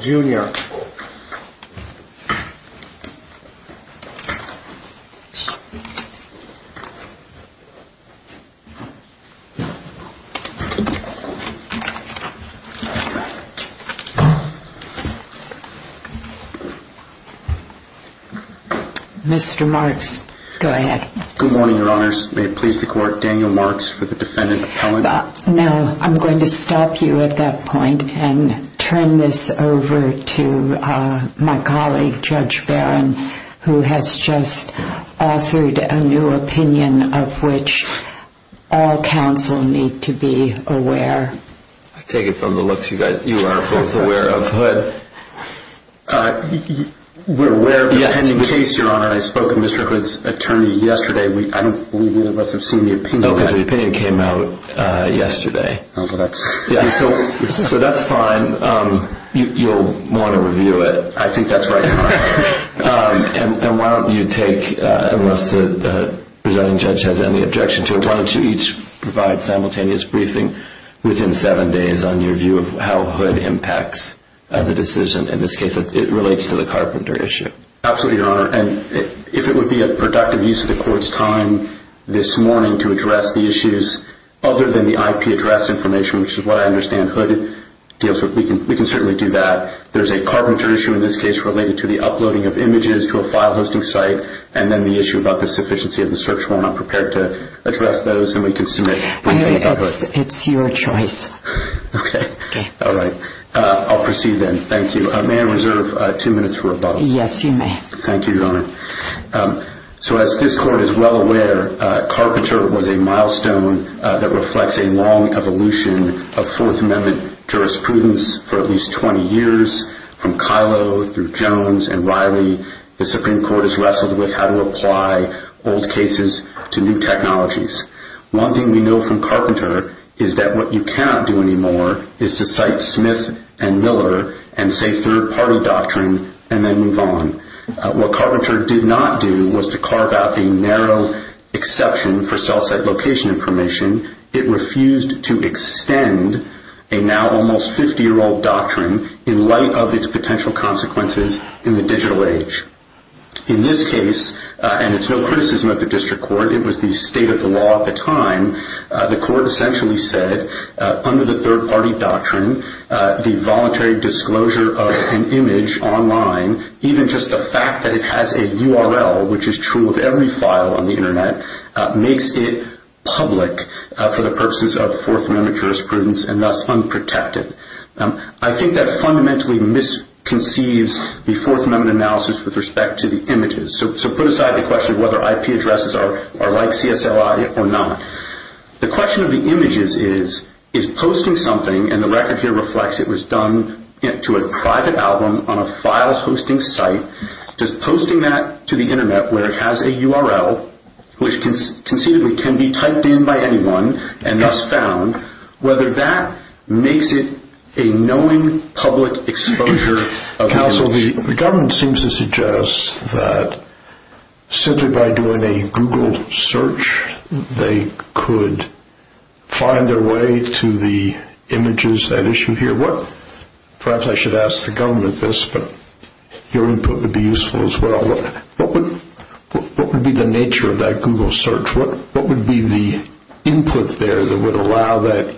Jr. Mr. Marks, go ahead. Good morning, your honors. May it please the court, Daniel Marks for the defendant appellant? No, I'm going to stop you at that point and turn this over to my colleague, Judge Barron, who has just authored a new opinion of which all counsel need to be aware. I take it from the looks you are both aware of. We're aware of the pending case, your honor. I spoke with Mr. Hood's attorney yesterday. I don't believe any of us have seen the opinion. The opinion came out yesterday. That's fine. You'll want to review it. I think that's right. Why don't you take, unless the presiding judge has any objection to it, why don't you each provide simultaneous briefing within seven days on your view of how Hood impacts the decision. In this case, it relates to the carpenter issue. Absolutely, your honor. If it would be a productive use of the court's time this morning to address the issues other than the IP address information, which is what I understand Hood deals with, we can certainly do that. There's a carpenter issue in this case related to the uploading of images to a file hosting site, and then the issue about the sufficiency of the search warrant. I'm prepared to address those, and we can submit briefing about Hood. It's your choice. Okay. All right. I'll proceed then. Thank you. May I reserve two minutes for a bubble? Yes, you may. Thank you, your honor. As this court is well aware, Carpenter was a milestone that reflects a long evolution of Fourth Amendment jurisprudence for at least 20 years. From Kylo through Jones and Riley, the Supreme Court has wrestled with how to apply old cases to new technologies. One thing we know from Carpenter is that what you cannot do anymore is to cite Smith and Miller and say third-party doctrine and then move on. What Carpenter did not do was to carve out the narrow exception for cell site location information. It refused to extend a now almost 50-year-old doctrine in light of its potential consequences in the digital age. In this case, and it's no criticism of the district court, it was the state of the law at the time, the court essentially said, under the third-party doctrine, the voluntary disclosure of an image online, even just the fact that it has a URL, which is true of every file on the Internet, makes it public for the purposes of Fourth Amendment jurisprudence and thus unprotected. I think that fundamentally misconceives the Fourth Amendment analysis with respect to the images. Put aside the question of whether IP addresses are like CSLI or not, the question of the images is, is posting something, and the record here reflects it was done to a private album on a file-hosting site, does posting that to the Internet, where it has a URL, which conceivably can be typed in by anyone and thus found, whether that makes it a knowing public exposure of the image? So the government seems to suggest that simply by doing a Google search, they could find their way to the images at issue here. Perhaps I should ask the government this, but your input would be useful as well. What would be the nature of that Google search? What would be the input there that would allow that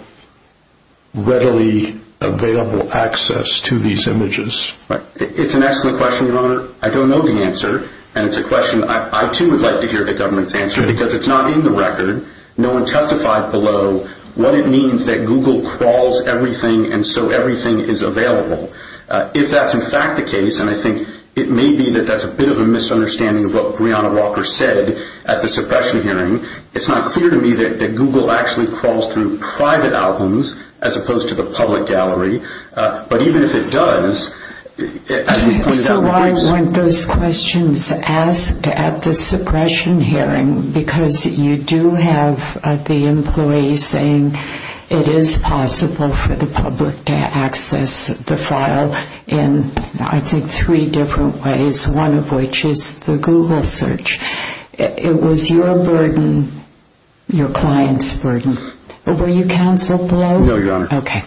readily available access to these images? It's an excellent question, Your Honor. I don't know the answer, and it's a question I too would like to hear the government's answer, because it's not in the record. No one testified below what it means that Google crawls everything and so everything is available. If that's in fact the case, and I think it may be that that's a bit of a misunderstanding of what Breonna Walker said at the suppression hearing, it's not clear to me that Google actually crawls through private albums as opposed to the public gallery, but even if it does, as we pointed out in the briefs... So I want those questions asked at the suppression hearing, because you do have the employees saying it is possible for the public to access the file in, I think, three different ways, one of which is the Google search. It was your burden, your client's burden... Were you counseled below? No, Your Honor. Okay.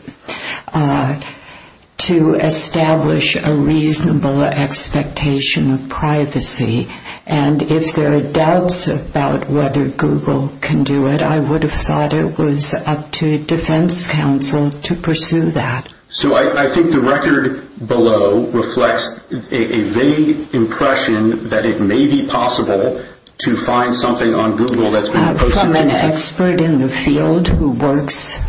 To establish a reasonable expectation of privacy, and if there are doubts about whether Google can do it, I would have thought it was up to defense counsel to pursue that. So I think the record below reflects a vague impression that it may be possible to find something on Google that's been posted to defense... From an expert in the field who works...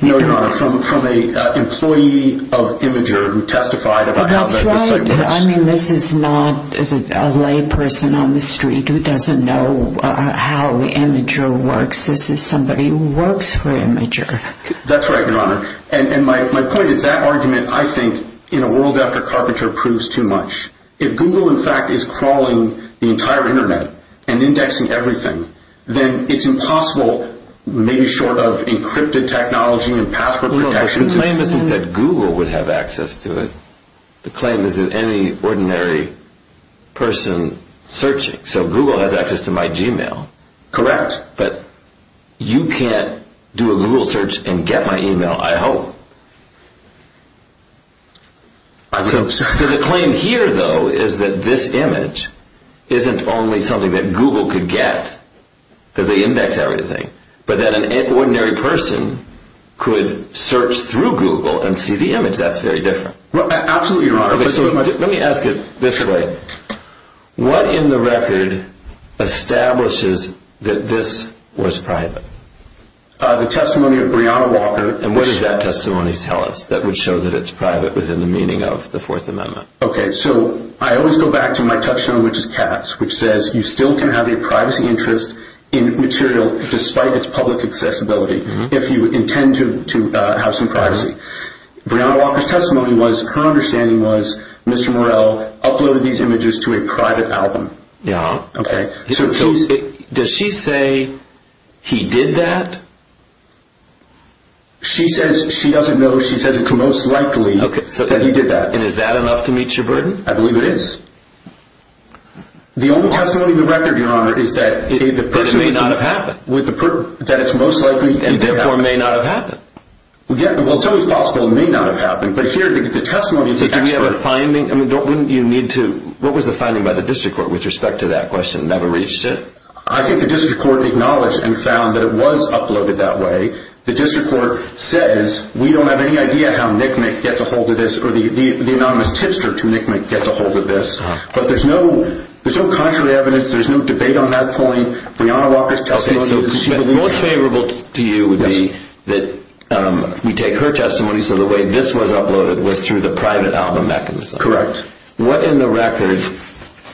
No, Your Honor, from an employee of Imgur who testified about how the site works... I mean, this is not a lay person on the street who doesn't know how Imgur works. This is somebody who works for Imgur. That's right, Your Honor, and my point is that argument, I think, in a world after Carpenter proves too much. If Google, in fact, is crawling the entire Internet and indexing everything, then it's impossible, maybe short of encrypted technology and password protection... The claim isn't that Google would have access to it. The claim is that any ordinary person searching. So Google has access to my Gmail. Correct. But you can't do a Google search and get my email, I hope. I hope so. So the claim here, though, is that this image isn't only something that Google could get, because they index everything, but that an ordinary person could search through Google and see the image. That's very different. Absolutely, Your Honor. Okay, so let me ask it this way. What in the record establishes that this was private? The testimony of Breonna Walker... And what does that testimony tell us that would show that it's private within the meaning of the Fourth Amendment? Okay, so I always go back to my touchstone, which is Cass, which says you still can have a privacy interest in material despite its public accessibility, if you intend to have some privacy. Breonna Walker's testimony was, her understanding was, Mr. Morell uploaded these images to a private album. Yeah. Okay. Does she say he did that? She says she doesn't know. She says it's most likely that he did that. Okay, so is that enough to meet your burden? I believe it is. The only testimony in the record, Your Honor, is that the person... But it may not have happened. That it's most likely and therefore may not have happened. Well, it's always possible it may not have happened, but here the testimony is actually... But do we have a finding? What was the finding by the district court with respect to that question? Never reached it? I think the district court acknowledged and found that it was uploaded that way. The district court says we don't have any idea how Nick Nick gets a hold of this or the anonymous tipster to Nick Nick gets a hold of this, but there's no contrary evidence. There's no debate on that point. Breonna Walker's testimony... Okay, so most favorable to you would be that we take her testimony so the way this was uploaded was through the private album mechanism. Correct. What in the record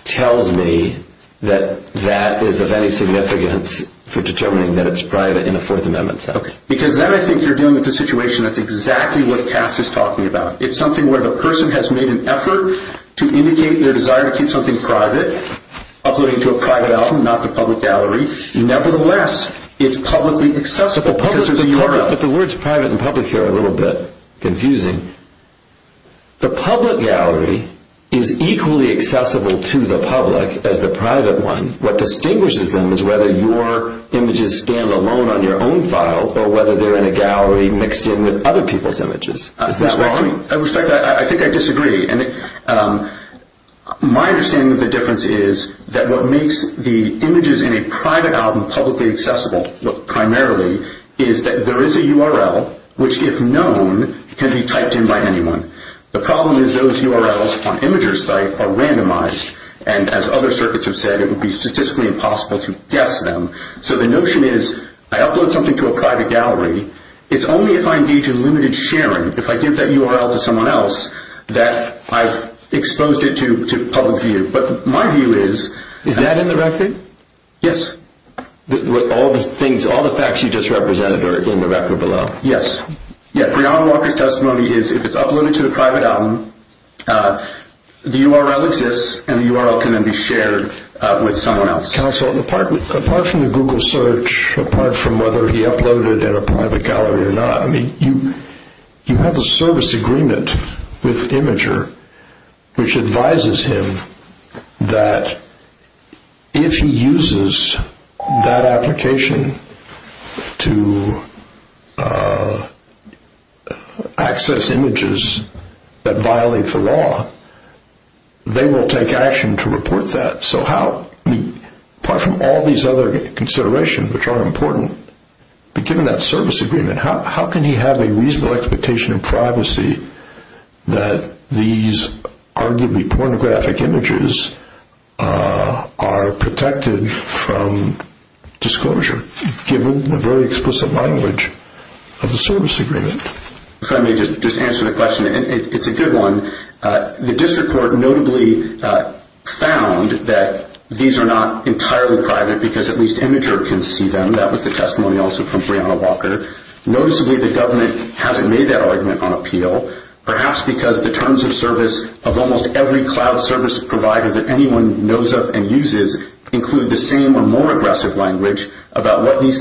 tells me that that is of any significance for determining that it's private in a Fourth Amendment sense? Because then I think you're dealing with a situation that's exactly what Cass is talking about. It's something where the person has made an effort to indicate their desire to keep something private, uploading to a private album, not the public gallery. Nevertheless, it's publicly accessible. But the words private and public are a little bit confusing. The public gallery is equally accessible to the public as the private one. What distinguishes them is whether your images stand alone on your own file or whether they're in a gallery mixed in with other people's images. Is that wrong? I respect that. I think I disagree. My understanding of the difference is that what makes the images in a private album publicly accessible primarily is that there is a URL which, if known, can be typed in by anyone. The problem is those URLs on the record are randomized. And as other circuits have said, it would be statistically impossible to guess them. So the notion is, I upload something to a private gallery. It's only if I engage in limited sharing, if I give that URL to someone else, that I've exposed it to public view. But my view is... Is that in the record? Yes. All the facts you just represented are in the record below? Yes. Brian Walker's testimony is, if it's uploaded to a private album, the URL exists, and the URL can then be shared with someone else. Counsel, apart from the Google search, apart from whether he uploaded in a private gallery or not, you have a service agreement with Imgur, which advises him that if he uses that that violate the law, they will take action to report that. So how... Apart from all these other considerations, which are important, but given that service agreement, how can he have a reasonable expectation of privacy that these arguably pornographic images are protected from disclosure, given the very explicit language of the service agreement? If I may just answer the question, it's a good one. The district court notably found that these are not entirely private because at least Imgur can see them. That was the testimony also from Brianna Walker. Noticeably, the government hasn't made that argument on appeal, perhaps because the terms of service of almost every cloud service provider that anyone knows of and uses include the same or more aggressive language about what these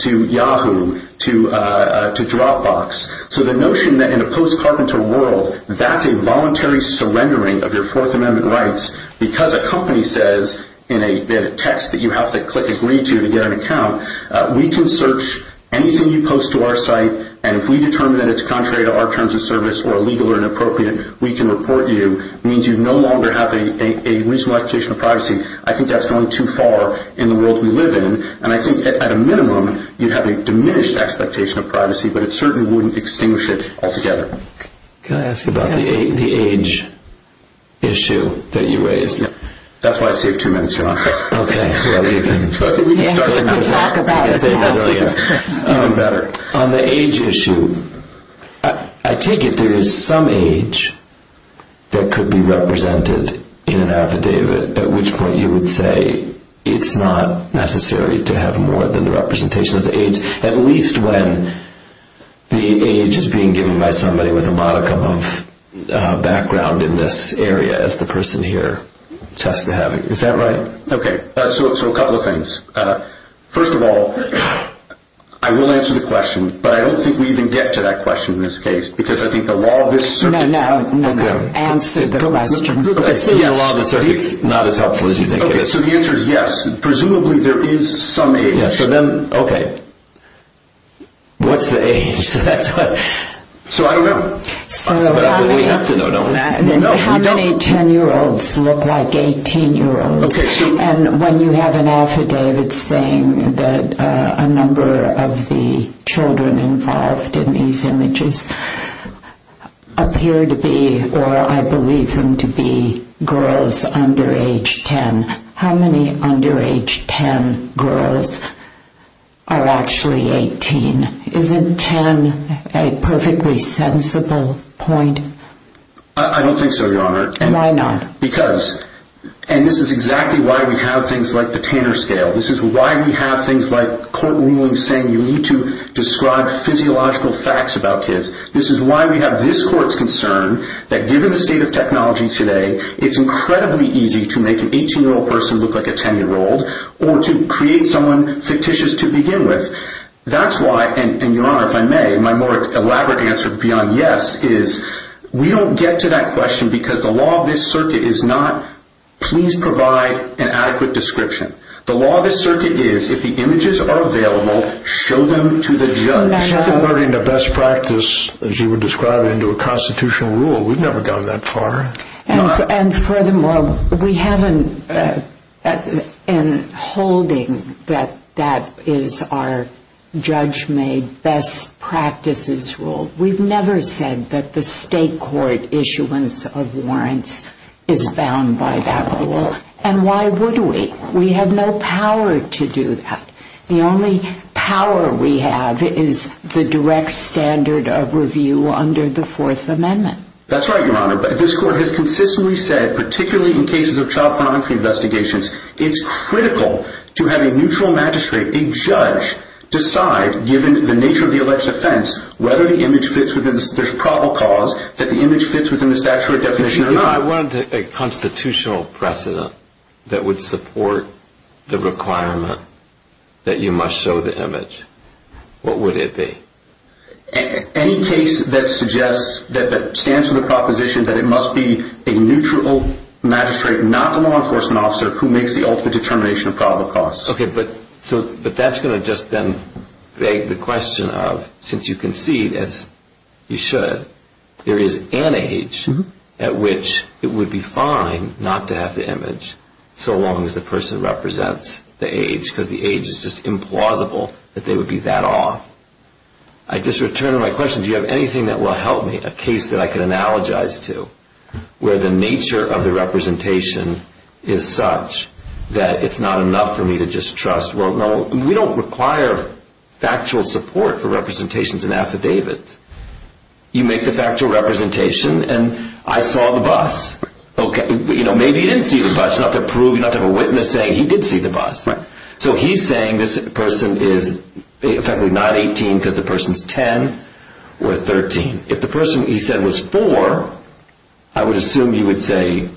to Yahoo, to Dropbox. So the notion that in a post-carpenter world, that's a voluntary surrendering of your Fourth Amendment rights because a company says in a text that you have to click agree to to get an account, we can search anything you post to our site and if we determine that it's contrary to our terms of service or illegal or inappropriate, we can report you, means you no longer have a reasonable expectation of privacy. I think that's going too far in the world we live in. And I think at a minimum, you'd have a diminished expectation of privacy, but it certainly wouldn't extinguish it altogether. Can I ask you about the age issue that you raised? That's why I saved two minutes. You're on. Okay. You can talk about it as long as it's even better. On the age issue, I take it there is some age that could be represented in an affidavit, at which point you would say it's not necessary to have more than the representation of the age, at least when the age is being given by somebody with a modicum of background in this area, as the person here attests to having. Is that right? Okay. So a couple of things. First of all, I will answer the question, but I don't think we even get to that question in this case, because I think the law of this circuit... No, no, no. Okay. The law of the circuit is not as helpful as you think it is. Okay. So the answer is yes. Presumably there is some age. Yes. So then, okay. What's the age? So I don't know. We have to know. How many 10-year-olds look like 18-year-olds? And when you have an affidavit saying that a number of the children involved in these cases are under age 10, how many under age 10 girls are actually 18? Isn't 10 a perfectly sensible point? I don't think so, Your Honor. Why not? Because, and this is exactly why we have things like the Tanner Scale. This is why we have things like court rulings saying you need to describe physiological facts about kids. This is why we have this court's concern that given the state of technology today, it's incredibly easy to make an 18-year-old person look like a 10-year-old, or to create someone fictitious to begin with. That's why, and Your Honor, if I may, my more elaborate answer beyond yes is we don't get to that question because the law of this circuit is not please provide an adequate description. The law of this circuit is if the images are available, show them to the judge. You're converting the best practice, as you would describe it, into a constitutional rule. We've never gone that far. And furthermore, we haven't been holding that that is our judge-made best practices rule. We've never said that the state court issuance of warrants is bound by that rule. And why would we? We have no power to do that. The only power we have is the direct standard of review under the Fourth Amendment. That's right, Your Honor. This court has consistently said, particularly in cases of child pornography investigations, it's critical to have a neutral magistrate, a judge, decide, given the nature of the alleged offense, whether the image fits within, there's probable cause that the image fits within the statutory definition or not. If I wanted a constitutional precedent that would support the requirement that you must show the image, what would it be? Any case that suggests, that stands for the proposition, that it must be a neutral magistrate, not the law enforcement officer, who makes the ultimate determination of probable cause. Okay, but that's going to just then beg the question of, since you concede, as you should, there is an age at which it would be fine not to have the image, so long as the person represents the age, because the age is just implausible that they would be that off. I just return to my question, do you have anything that will help me, a case that I could analogize to, where the nature of the representation is such that it's not enough for me to just trust, well, no, we don't require factual support for representations and affidavits. You make the factual representation, and I saw the bus. Okay, maybe he didn't see the bus. You don't have to prove, you don't have to have a witness saying he did see the bus. So he's saying this person is effectively not 18 because the person is 10 or 13. If the person he said was 4, I would assume he would say,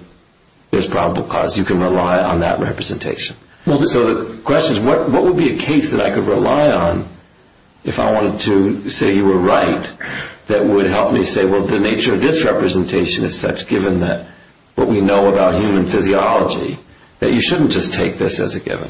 there's probable cause, you can rely on that representation. So the question is, what would be a case that I could rely on, if I wanted to say you were right, that would help me say, well, the nature of this representation is such, given what we know about human physiology, that you shouldn't just take this as a given.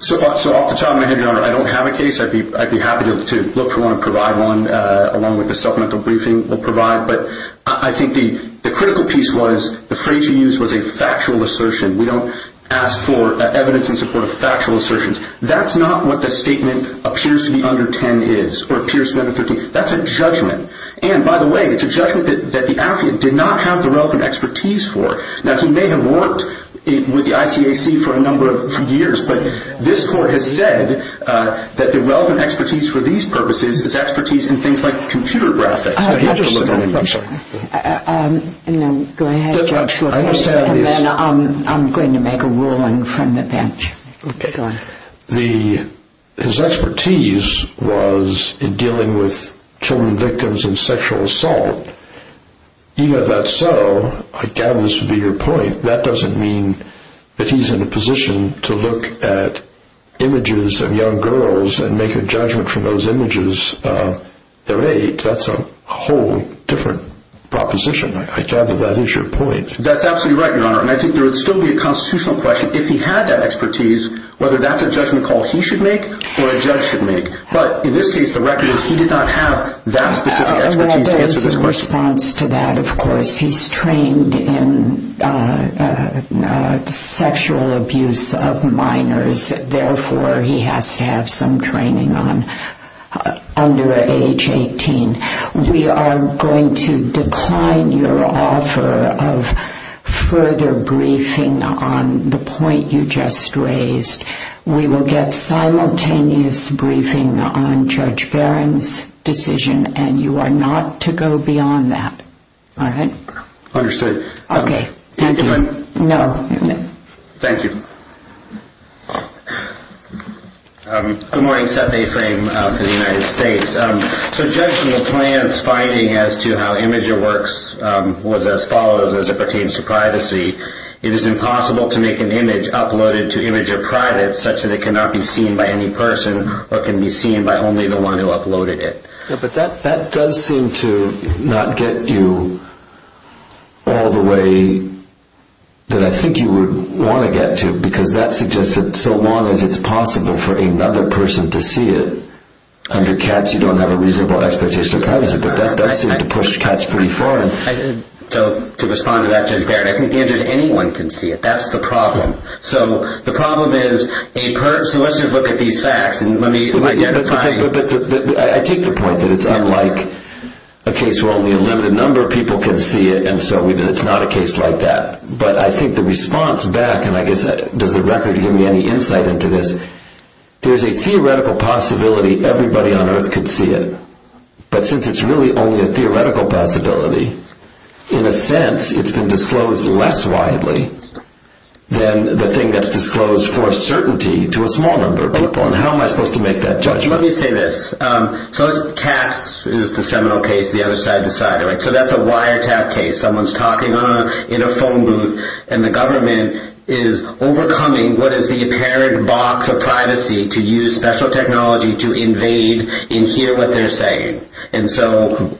So off the top of my head, Your Honor, I don't have a case. I'd be happy to look for one and provide one, along with the supplemental briefing we'll provide. But I think the critical piece was, the phrase you used was a factual assertion. We don't ask for evidence in support of factual assertions. That's not what the statement appears to be under 10 is, or appears to be under 13. That's a judgment. And, by the way, it's a judgment that the athlete did not have the relevant expertise for. Now, he may have worked with the ICAC for a number of years, but this Court has said that the relevant expertise for these purposes is expertise in things like computer graphics. I understand. I'm sorry. No, go ahead, Judge, and then I'm going to make a ruling from the bench. Okay, go ahead. His expertise was in dealing with children victims in sexual assault. Even if that's so, I gather this would be your point, that doesn't mean that he's in a position to look at images of young girls and make a judgment from those images of their age. That's a whole different proposition. I gather that is your point. That's absolutely right, Your Honor. And I think there would still be a constitutional question. If he had that expertise, whether that's a judgment call he should make or a judge should make. But, in this case, the record is he did not have that specific expertise to answer this question. Well, there is a response to that, of course. He's trained in sexual abuse of minors. Therefore, he has to have some training under age 18. We are going to decline your offer of further briefing on the point you just raised. We will get simultaneous briefing on Judge Barron's decision, and you are not to go beyond that. All right? Understood. Okay. Thank you. No. Thank you. Good morning, Seth A. Frame for the United States. So, judging from the client's finding as to how Imgur works was as follows as it pertains to privacy. It is impossible to make an image uploaded to Imgur private such that it cannot be seen by any person or can be seen by only the one who uploaded it. But that does seem to not get you all the way that I think you would want to get to, because that suggests that so long as it's possible for another person to see it, under cats, you don't have a reasonable expectation of privacy. But that does seem to push cats pretty far. So, to respond to that, Judge Barron, I think the answer to anyone can see it. That's the problem. So, the problem is a person, let's just look at these facts, and let me identify. I take the point that it's unlike a case where only a limited number of people can see it, and so it's not a case like that. But I think the response back, and I guess, does the record give me any insight into this? There's a theoretical possibility everybody on earth could see it, but since it's really only a theoretical possibility, in a sense, it's been disclosed less widely than the thing that's disclosed for certainty to a small number of people, and how am I supposed to make that judgment? Let me say this. So, cats is the seminal case, the other side, the side. So, that's a wiretap case. Someone's talking in a phone booth, and the government is overcoming what is the apparent box of privacy to use special technology to invade and hear what they're saying. And so,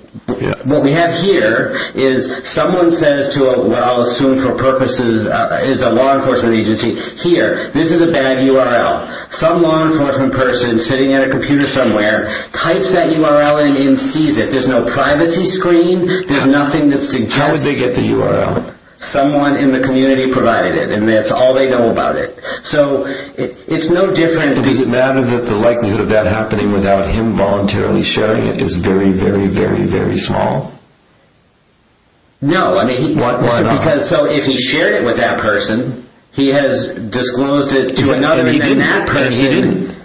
what we have here is someone says to what I'll assume for purposes is a law enforcement agency, here, this is a bad URL. Some law enforcement person sitting at a computer somewhere types that URL and sees it. There's no privacy screen, there's nothing that suggests... How did they get the URL? Someone in the community provided it, and that's all they know about it. So, it's no different... Does it matter that the likelihood of that happening without him voluntarily sharing it is very, very, very, very small? No, I mean... Why not? Because, so, if he shared it with that person, he has disclosed it to another, and then that person... But he didn't.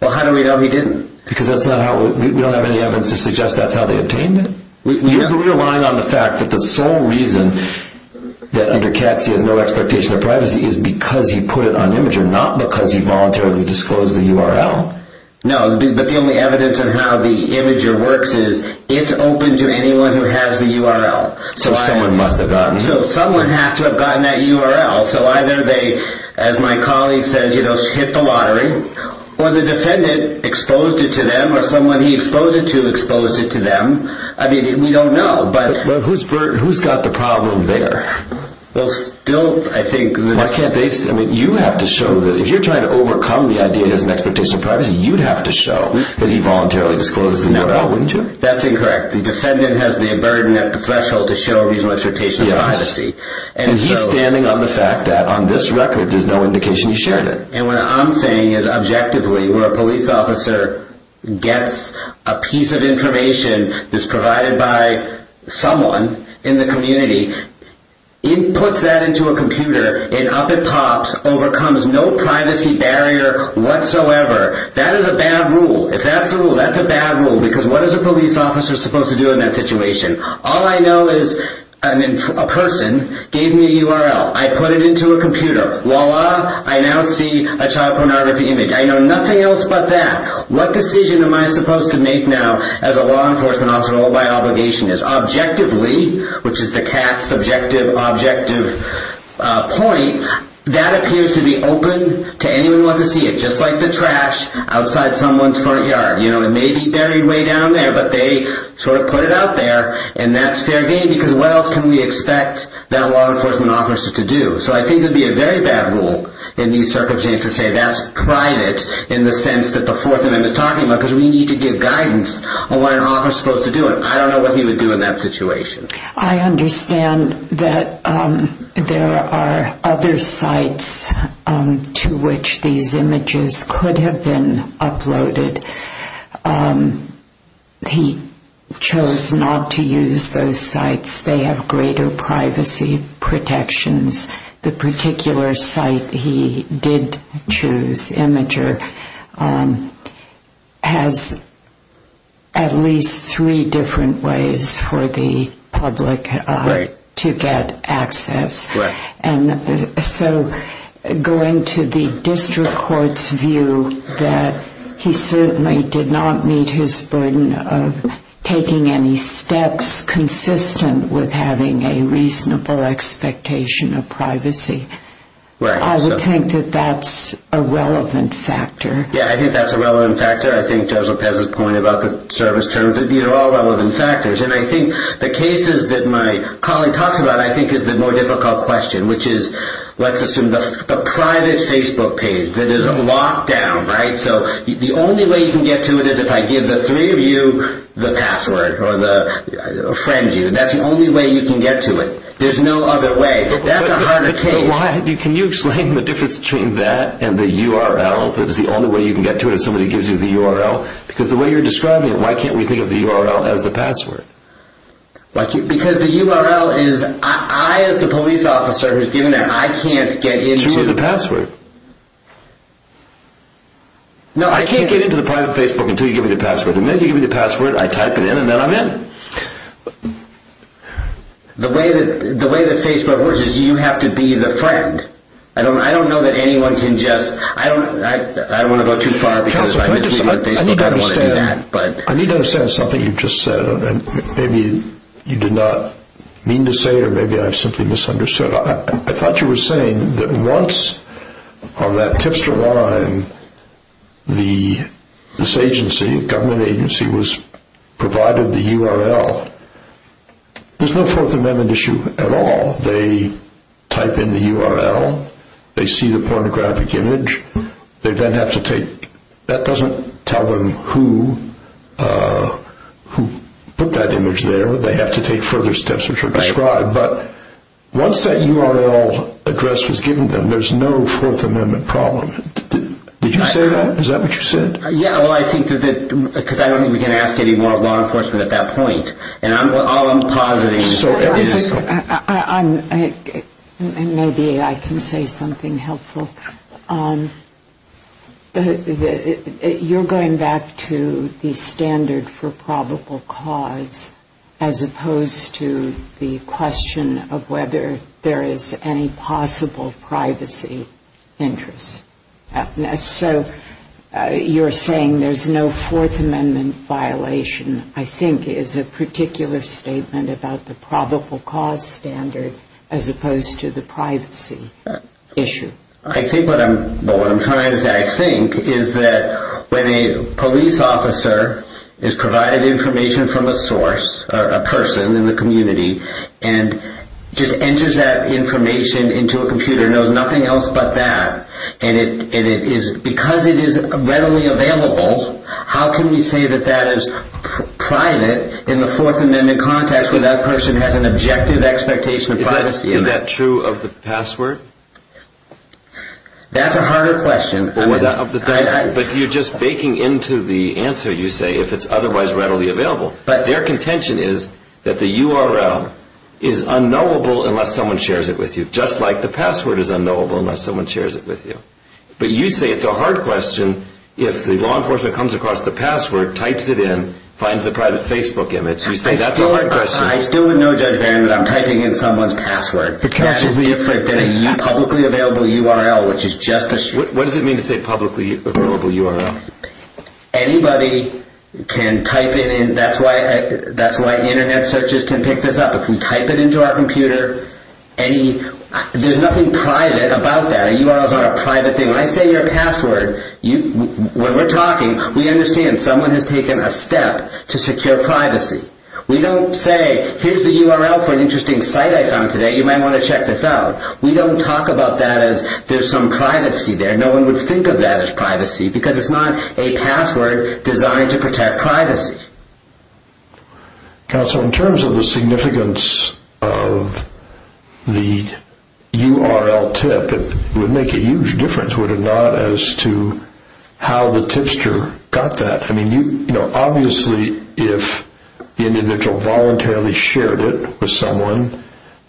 Well, how do we know he didn't? Because that's not how... we don't have any evidence to suggest that's how they obtained it. We're relying on the fact that the sole reason that under cats he has no expectation of privacy is because he put it on Imgur, not because he voluntarily disclosed the URL. No, but the only evidence of how the Imgur works is it's open to anyone who has the URL. So, someone must have gotten it. So, someone has to have gotten that URL. So, either they, as my colleague says, you know, hit the lottery, or the defendant exposed it to them, or someone he exposed it to exposed it to them. I mean, we don't know, but... But who's got the problem there? Well, still, I think... Why can't they... I mean, you have to show that... If you're trying to overcome the idea as an expectation of privacy, you'd have to show that he voluntarily disclosed the URL, wouldn't you? That's incorrect. The defendant has the burden at the threshold to show a reasonable expectation of privacy. And he's standing on the fact that, on this record, there's no indication he shared it. And what I'm saying is, objectively, where a police officer gets a piece of information that's provided by someone in the community, puts that into a computer, and up it pops, overcomes no privacy barrier whatsoever, that is a bad rule. If that's a rule, that's a bad rule. Because what is a police officer supposed to do in that situation? All I know is, a person gave me a URL. I put it into a computer. Voila! I now see a child pornography image. I know nothing else but that. What decision am I supposed to make now, as a law enforcement officer, what my obligation is? Objectively, which is the cat's subjective, objective point, that appears to be open to anyone who wants to see it. Just like the trash outside someone's front yard. It may be buried way down there, but they sort of put it out there. And that's fair game, because what else can we expect that law enforcement officer to do? So I think it would be a very bad rule in these circumstances to say that's private, in the sense that the Fourth Amendment is talking about, because we need to give guidance on what an officer is supposed to do. I don't know what he would do in that situation. I understand that there are other sites to which these images could have been uploaded. He chose not to use those sites. They have greater privacy protections. The particular site he did choose, Imgur, has at least three different ways for the public to get access. So going to the district court's view that he certainly did not meet his burden of taking any steps consistent with having a reasonable expectation of privacy. I would think that that's a relevant factor. Yeah, I think that's a relevant factor. I think Judge Lopez's point about the service terms, they're all relevant factors. And I think the cases that my colleague talks about, I think is the more difficult question, which is, let's assume the private Facebook page, that is locked down, right? So the only way you can get to it is if I give the three of you the password, or friend you. That's the only way you can get to it. There's no other way. That's a harder case. But why? Can you explain the difference between that and the URL? Is the only way you can get to it is if somebody gives you the URL? Because the way you're describing it, why can't we think of the URL as the password? Because the URL is, I as the police officer who's given it, I can't get into it. You just give me the password. I can't get into the private Facebook until you give me the password. And then you give me the password, I type it in, and then I'm in. The way that Facebook works is you have to be the friend. I don't know that anyone can just, I don't want to go too far because I'm misleading Facebook. I don't want to do that. I need to understand something you just said. Maybe you did not mean to say it, or maybe I simply misunderstood. I thought you were saying that once on that tipster line, this agency, government agency, provided the URL, there's no Fourth Amendment issue at all. They type in the URL. They see the pornographic image. They then have to take, that doesn't tell them who put that image there. They have to take further steps which are described. But once that URL address was given to them, there's no Fourth Amendment problem. Did you say that? Is that what you said? Yeah, well, I think that, because I don't think we can ask any more of law enforcement at that point. And all I'm positing is that it is. I'm, maybe I can say something helpful. You're going back to the standard for probable cause as opposed to the question of whether there is any possible privacy interest. So you're saying there's no Fourth Amendment violation, I think is a particular statement about the probable cause standard as opposed to the privacy issue. I think what I'm trying to say, I think, is that when a police officer is provided information from a source, a person in the community, and just enters that information into a computer, knows nothing else but that, and it is, because it is readily available, how can we say that that is private in the Fourth Amendment context where that person has an objective expectation of privacy? Is that true of the password? That's a harder question. But you're just baking into the answer you say, if it's otherwise readily available. Their contention is that the URL is unknowable unless someone shares it with you, just like the password is unknowable unless someone shares it with you. But you say it's a hard question if the law enforcement comes across the password, types it in, finds the private Facebook image. You say that's a hard question. I still would know, Judge Barron, that I'm typing in someone's password. That is different than a publicly available URL, which is just a... What does it mean to say publicly available URL? Anybody can type it in. That's why Internet searches can pick this up. If we type it into our computer, there's nothing private about that. A URL is not a private thing. When I say your password, when we're talking, we understand someone has taken a step to secure privacy. We don't say, here's the URL for an interesting site I found today. You might want to check this out. We don't talk about that as there's some privacy there. No one would think of that as privacy, because it's not a password designed to protect privacy. Counsel, in terms of the significance of the URL tip, it would make a huge difference, would it not, as to how the tipster got that. Obviously, if the individual voluntarily shared it with someone,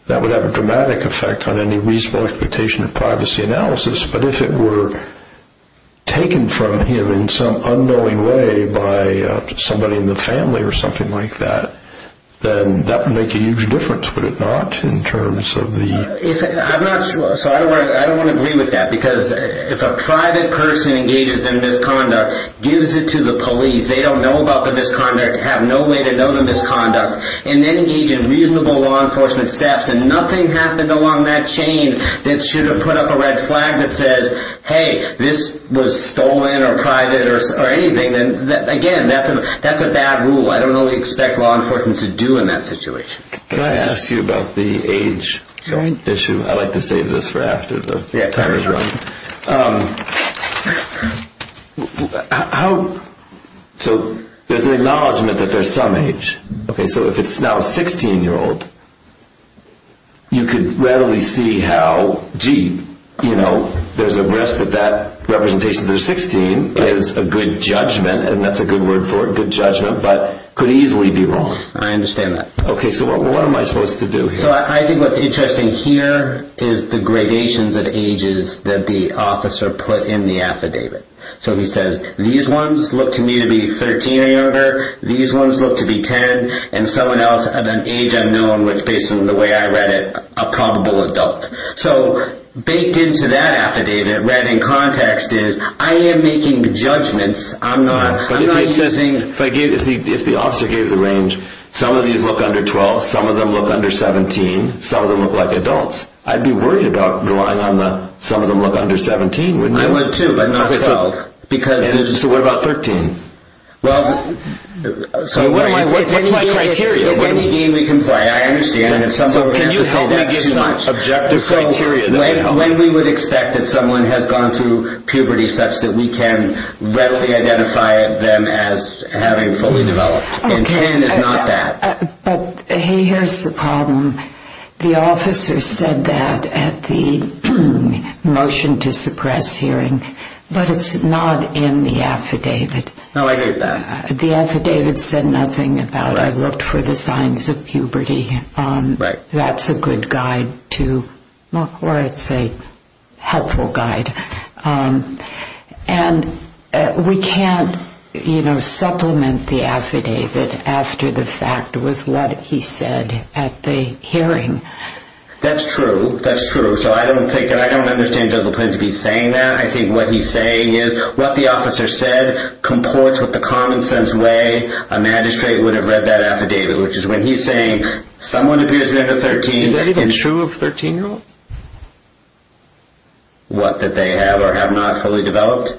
that would have a dramatic effect on any reasonable expectation of privacy analysis. But if it were taken from him in some unknowing way by somebody in the community, or in the family or something like that, then that would make a huge difference, would it not, in terms of the... I'm not sure. I don't want to agree with that. Because if a private person engages in misconduct, gives it to the police, they don't know about the misconduct, have no way to know the misconduct, and then engage in reasonable law enforcement steps, and nothing happened along that chain that should have put up a red flag that says, hey, this was stolen or private or anything, again, that's a bad rule. I don't know what you expect law enforcement to do in that situation. Can I ask you about the age joint issue? I like to save this for after the time is up. There's an acknowledgment that there's some age. So if it's now a 16-year-old, you could readily see how, gee, there's a risk that that representation of 16 is a good judgment, and that's a good word for it, good judgment, but could easily be wrong. I understand that. Okay, so what am I supposed to do here? I think what's interesting here is the gradations of ages that the officer put in the affidavit. So he says, these ones look to me to be 13 or younger, these ones look to be 10, and someone else of an age unknown, which, based on the way I read it, a probable adult. So baked into that affidavit, read in context, is, I am making judgments. I'm not using... If the officer gave the range, some of these look under 12, some of them look under 17, some of them look like adults, I'd be worried about relying on the, some of them look under 17, wouldn't you? I would, too, but not 12. So what about 13? Well... What's my criteria? It's any game we can play, I understand. Can you say that gives you an objective criteria? When we would expect that someone has gone through puberty such that we can readily identify them as having fully developed. And 10 is not that. But, hey, here's the problem. The officer said that at the motion to suppress hearing, but it's not in the affidavit. No, I heard that. The affidavit said nothing about, I looked for the signs of puberty. Right. That's a good guide to... Or I'd say, helpful guide. And we can't, you know, supplement the affidavit after the fact with what he said at the hearing. That's true. That's true. So I don't think, and I don't understand Judge Le Pen to be saying that. I think what he's saying is, what the officer said comports with the common sense way a magistrate would have read that affidavit, which is when he's saying, someone appears to be under 13... Is that even true of 13-year-olds? What, that they have or have not fully developed?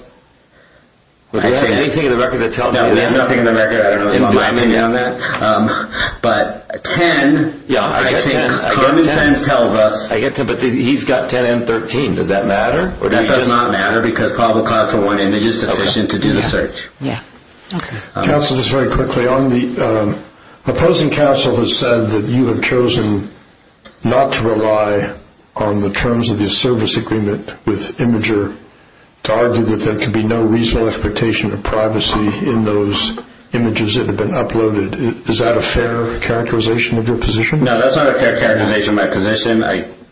Do you have anything in the record that tells you that? No, we have nothing in the record. I don't know. But 10, I think common sense tells us... I get 10, but he's got 10 and 13. Does that matter? That does not matter because probable cause for one image is sufficient to do the search. Counsel, just very quickly, opposing counsel has said that you have chosen not to rely on the terms of the service agreement with Imgur to argue that there could be no reasonable expectation of privacy in those images that have been uploaded. Is that a fair characterization of your position? No, that's not a fair characterization of my position.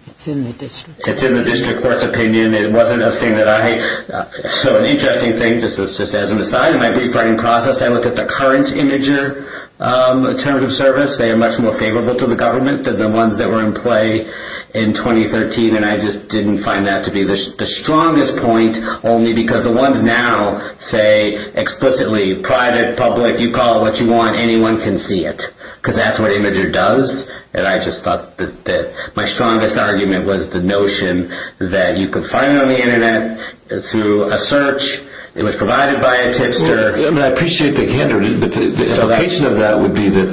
It's in the district court's opinion. It's in the district court's opinion. It wasn't a thing that I... So an interesting thing, just as an aside, in my brief writing process, I looked at the current Imgur terms of service. They are much more favorable to the government than the ones that were in play in 2013. And I just didn't find that to be the strongest point only because the ones now say explicitly, private, public, you call it what you want, anyone can see it. Because that's what Imgur does. And I just thought that my strongest argument was the notion that you could find it on the internet, through a search. It was provided by a tixter. I appreciate the candor, but the implication of that would be that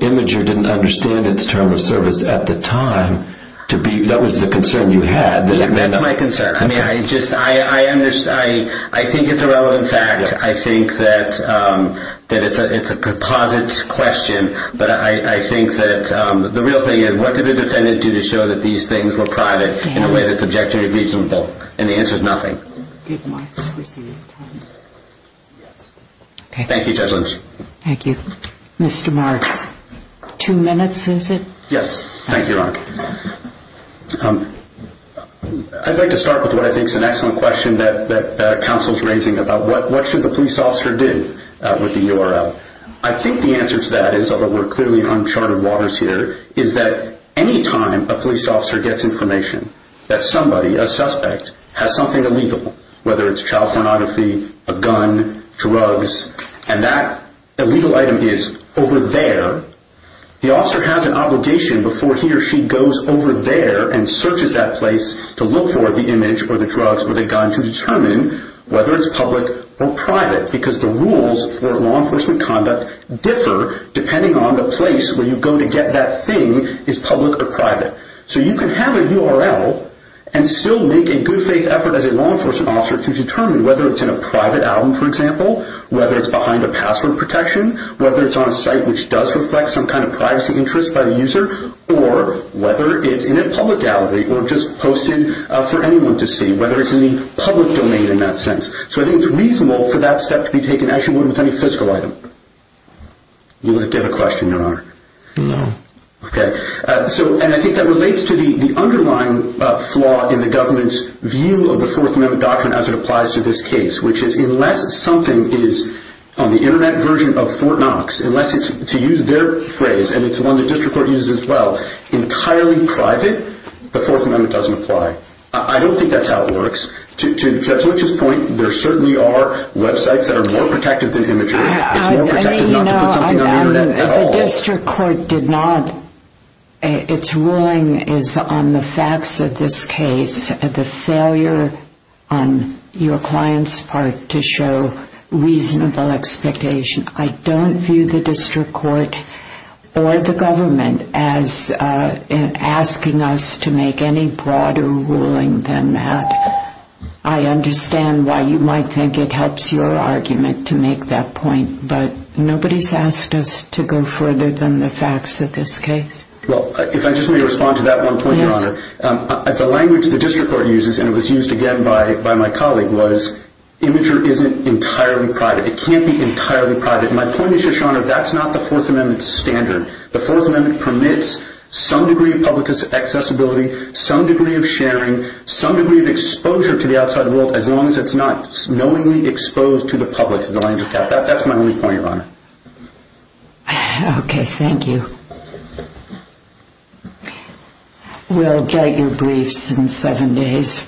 Imgur didn't understand its term of service at the time. That was the concern you had. That's my concern. I think it's a relevant fact. I think that it's a composite question. But I think that the real thing is, what did the defendant do to show that these things were private in a way that's objectively reasonable? And the answer is nothing. Thank you, Judge Lynch. Thank you. Mr. Marks, two minutes, is it? Yes, thank you, Your Honor. I'd like to start with what I think is an excellent question that counsel is raising about what should the police officer do with the URL. I think the answer to that is, although we're clearly on uncharted waters here, is that any time a police officer gets information that somebody, a suspect, has something illegal, whether it's child pornography, a gun, drugs, and that illegal item is over there, the officer has an obligation before he or she goes over there and searches that place to look for the image or the drugs or the gun to determine whether it's public or private because the rules for law enforcement conduct differ depending on whether the place where you go to get that thing is public or private. So you can have a URL and still make a good faith effort as a law enforcement officer to determine whether it's in a private album, for example, whether it's behind a password protection, whether it's on a site which does reflect some kind of privacy interest by the user, or whether it's in a public gallery or just posted for anyone to see, whether it's in the public domain in that sense. So I think it's reasonable for that step to be taken as you would with any physical item. You want to get a question, Your Honor? No. And I think that relates to the underlying flaw in the government's view of the Fourth Amendment doctrine as it applies to this case, which is unless something is on the internet version of Fort Knox, unless it's, to use their phrase, and it's one the District Court uses as well, entirely private, the Fourth Amendment doesn't apply. I don't think that's how it works. To Litch's point, there certainly are websites that are more protective than imagery. It's more protective not to put something on the internet at all. The District Court did not its ruling is on the facts of this case the failure on your client's part to show reasonable expectation. I don't view the District Court or the government as asking us to make any broader ruling than that. I understand why you might think it helps your argument to make that point, but nobody's asked us to go further than the facts of this case. If I just may respond to that one point, Your Honor. The language the District Court uses, and it was used again by my colleague, was imagery isn't entirely private. It can't be entirely private. My point is, Your Honor, that's not the Fourth Amendment standard. The Fourth Amendment permits some degree of public accessibility, some degree of sharing, some degree of exposure to the outside world, as long as it's not knowingly exposed to the public. That's my only point, Your Honor. Okay, thank you. We'll get your briefs in seven days.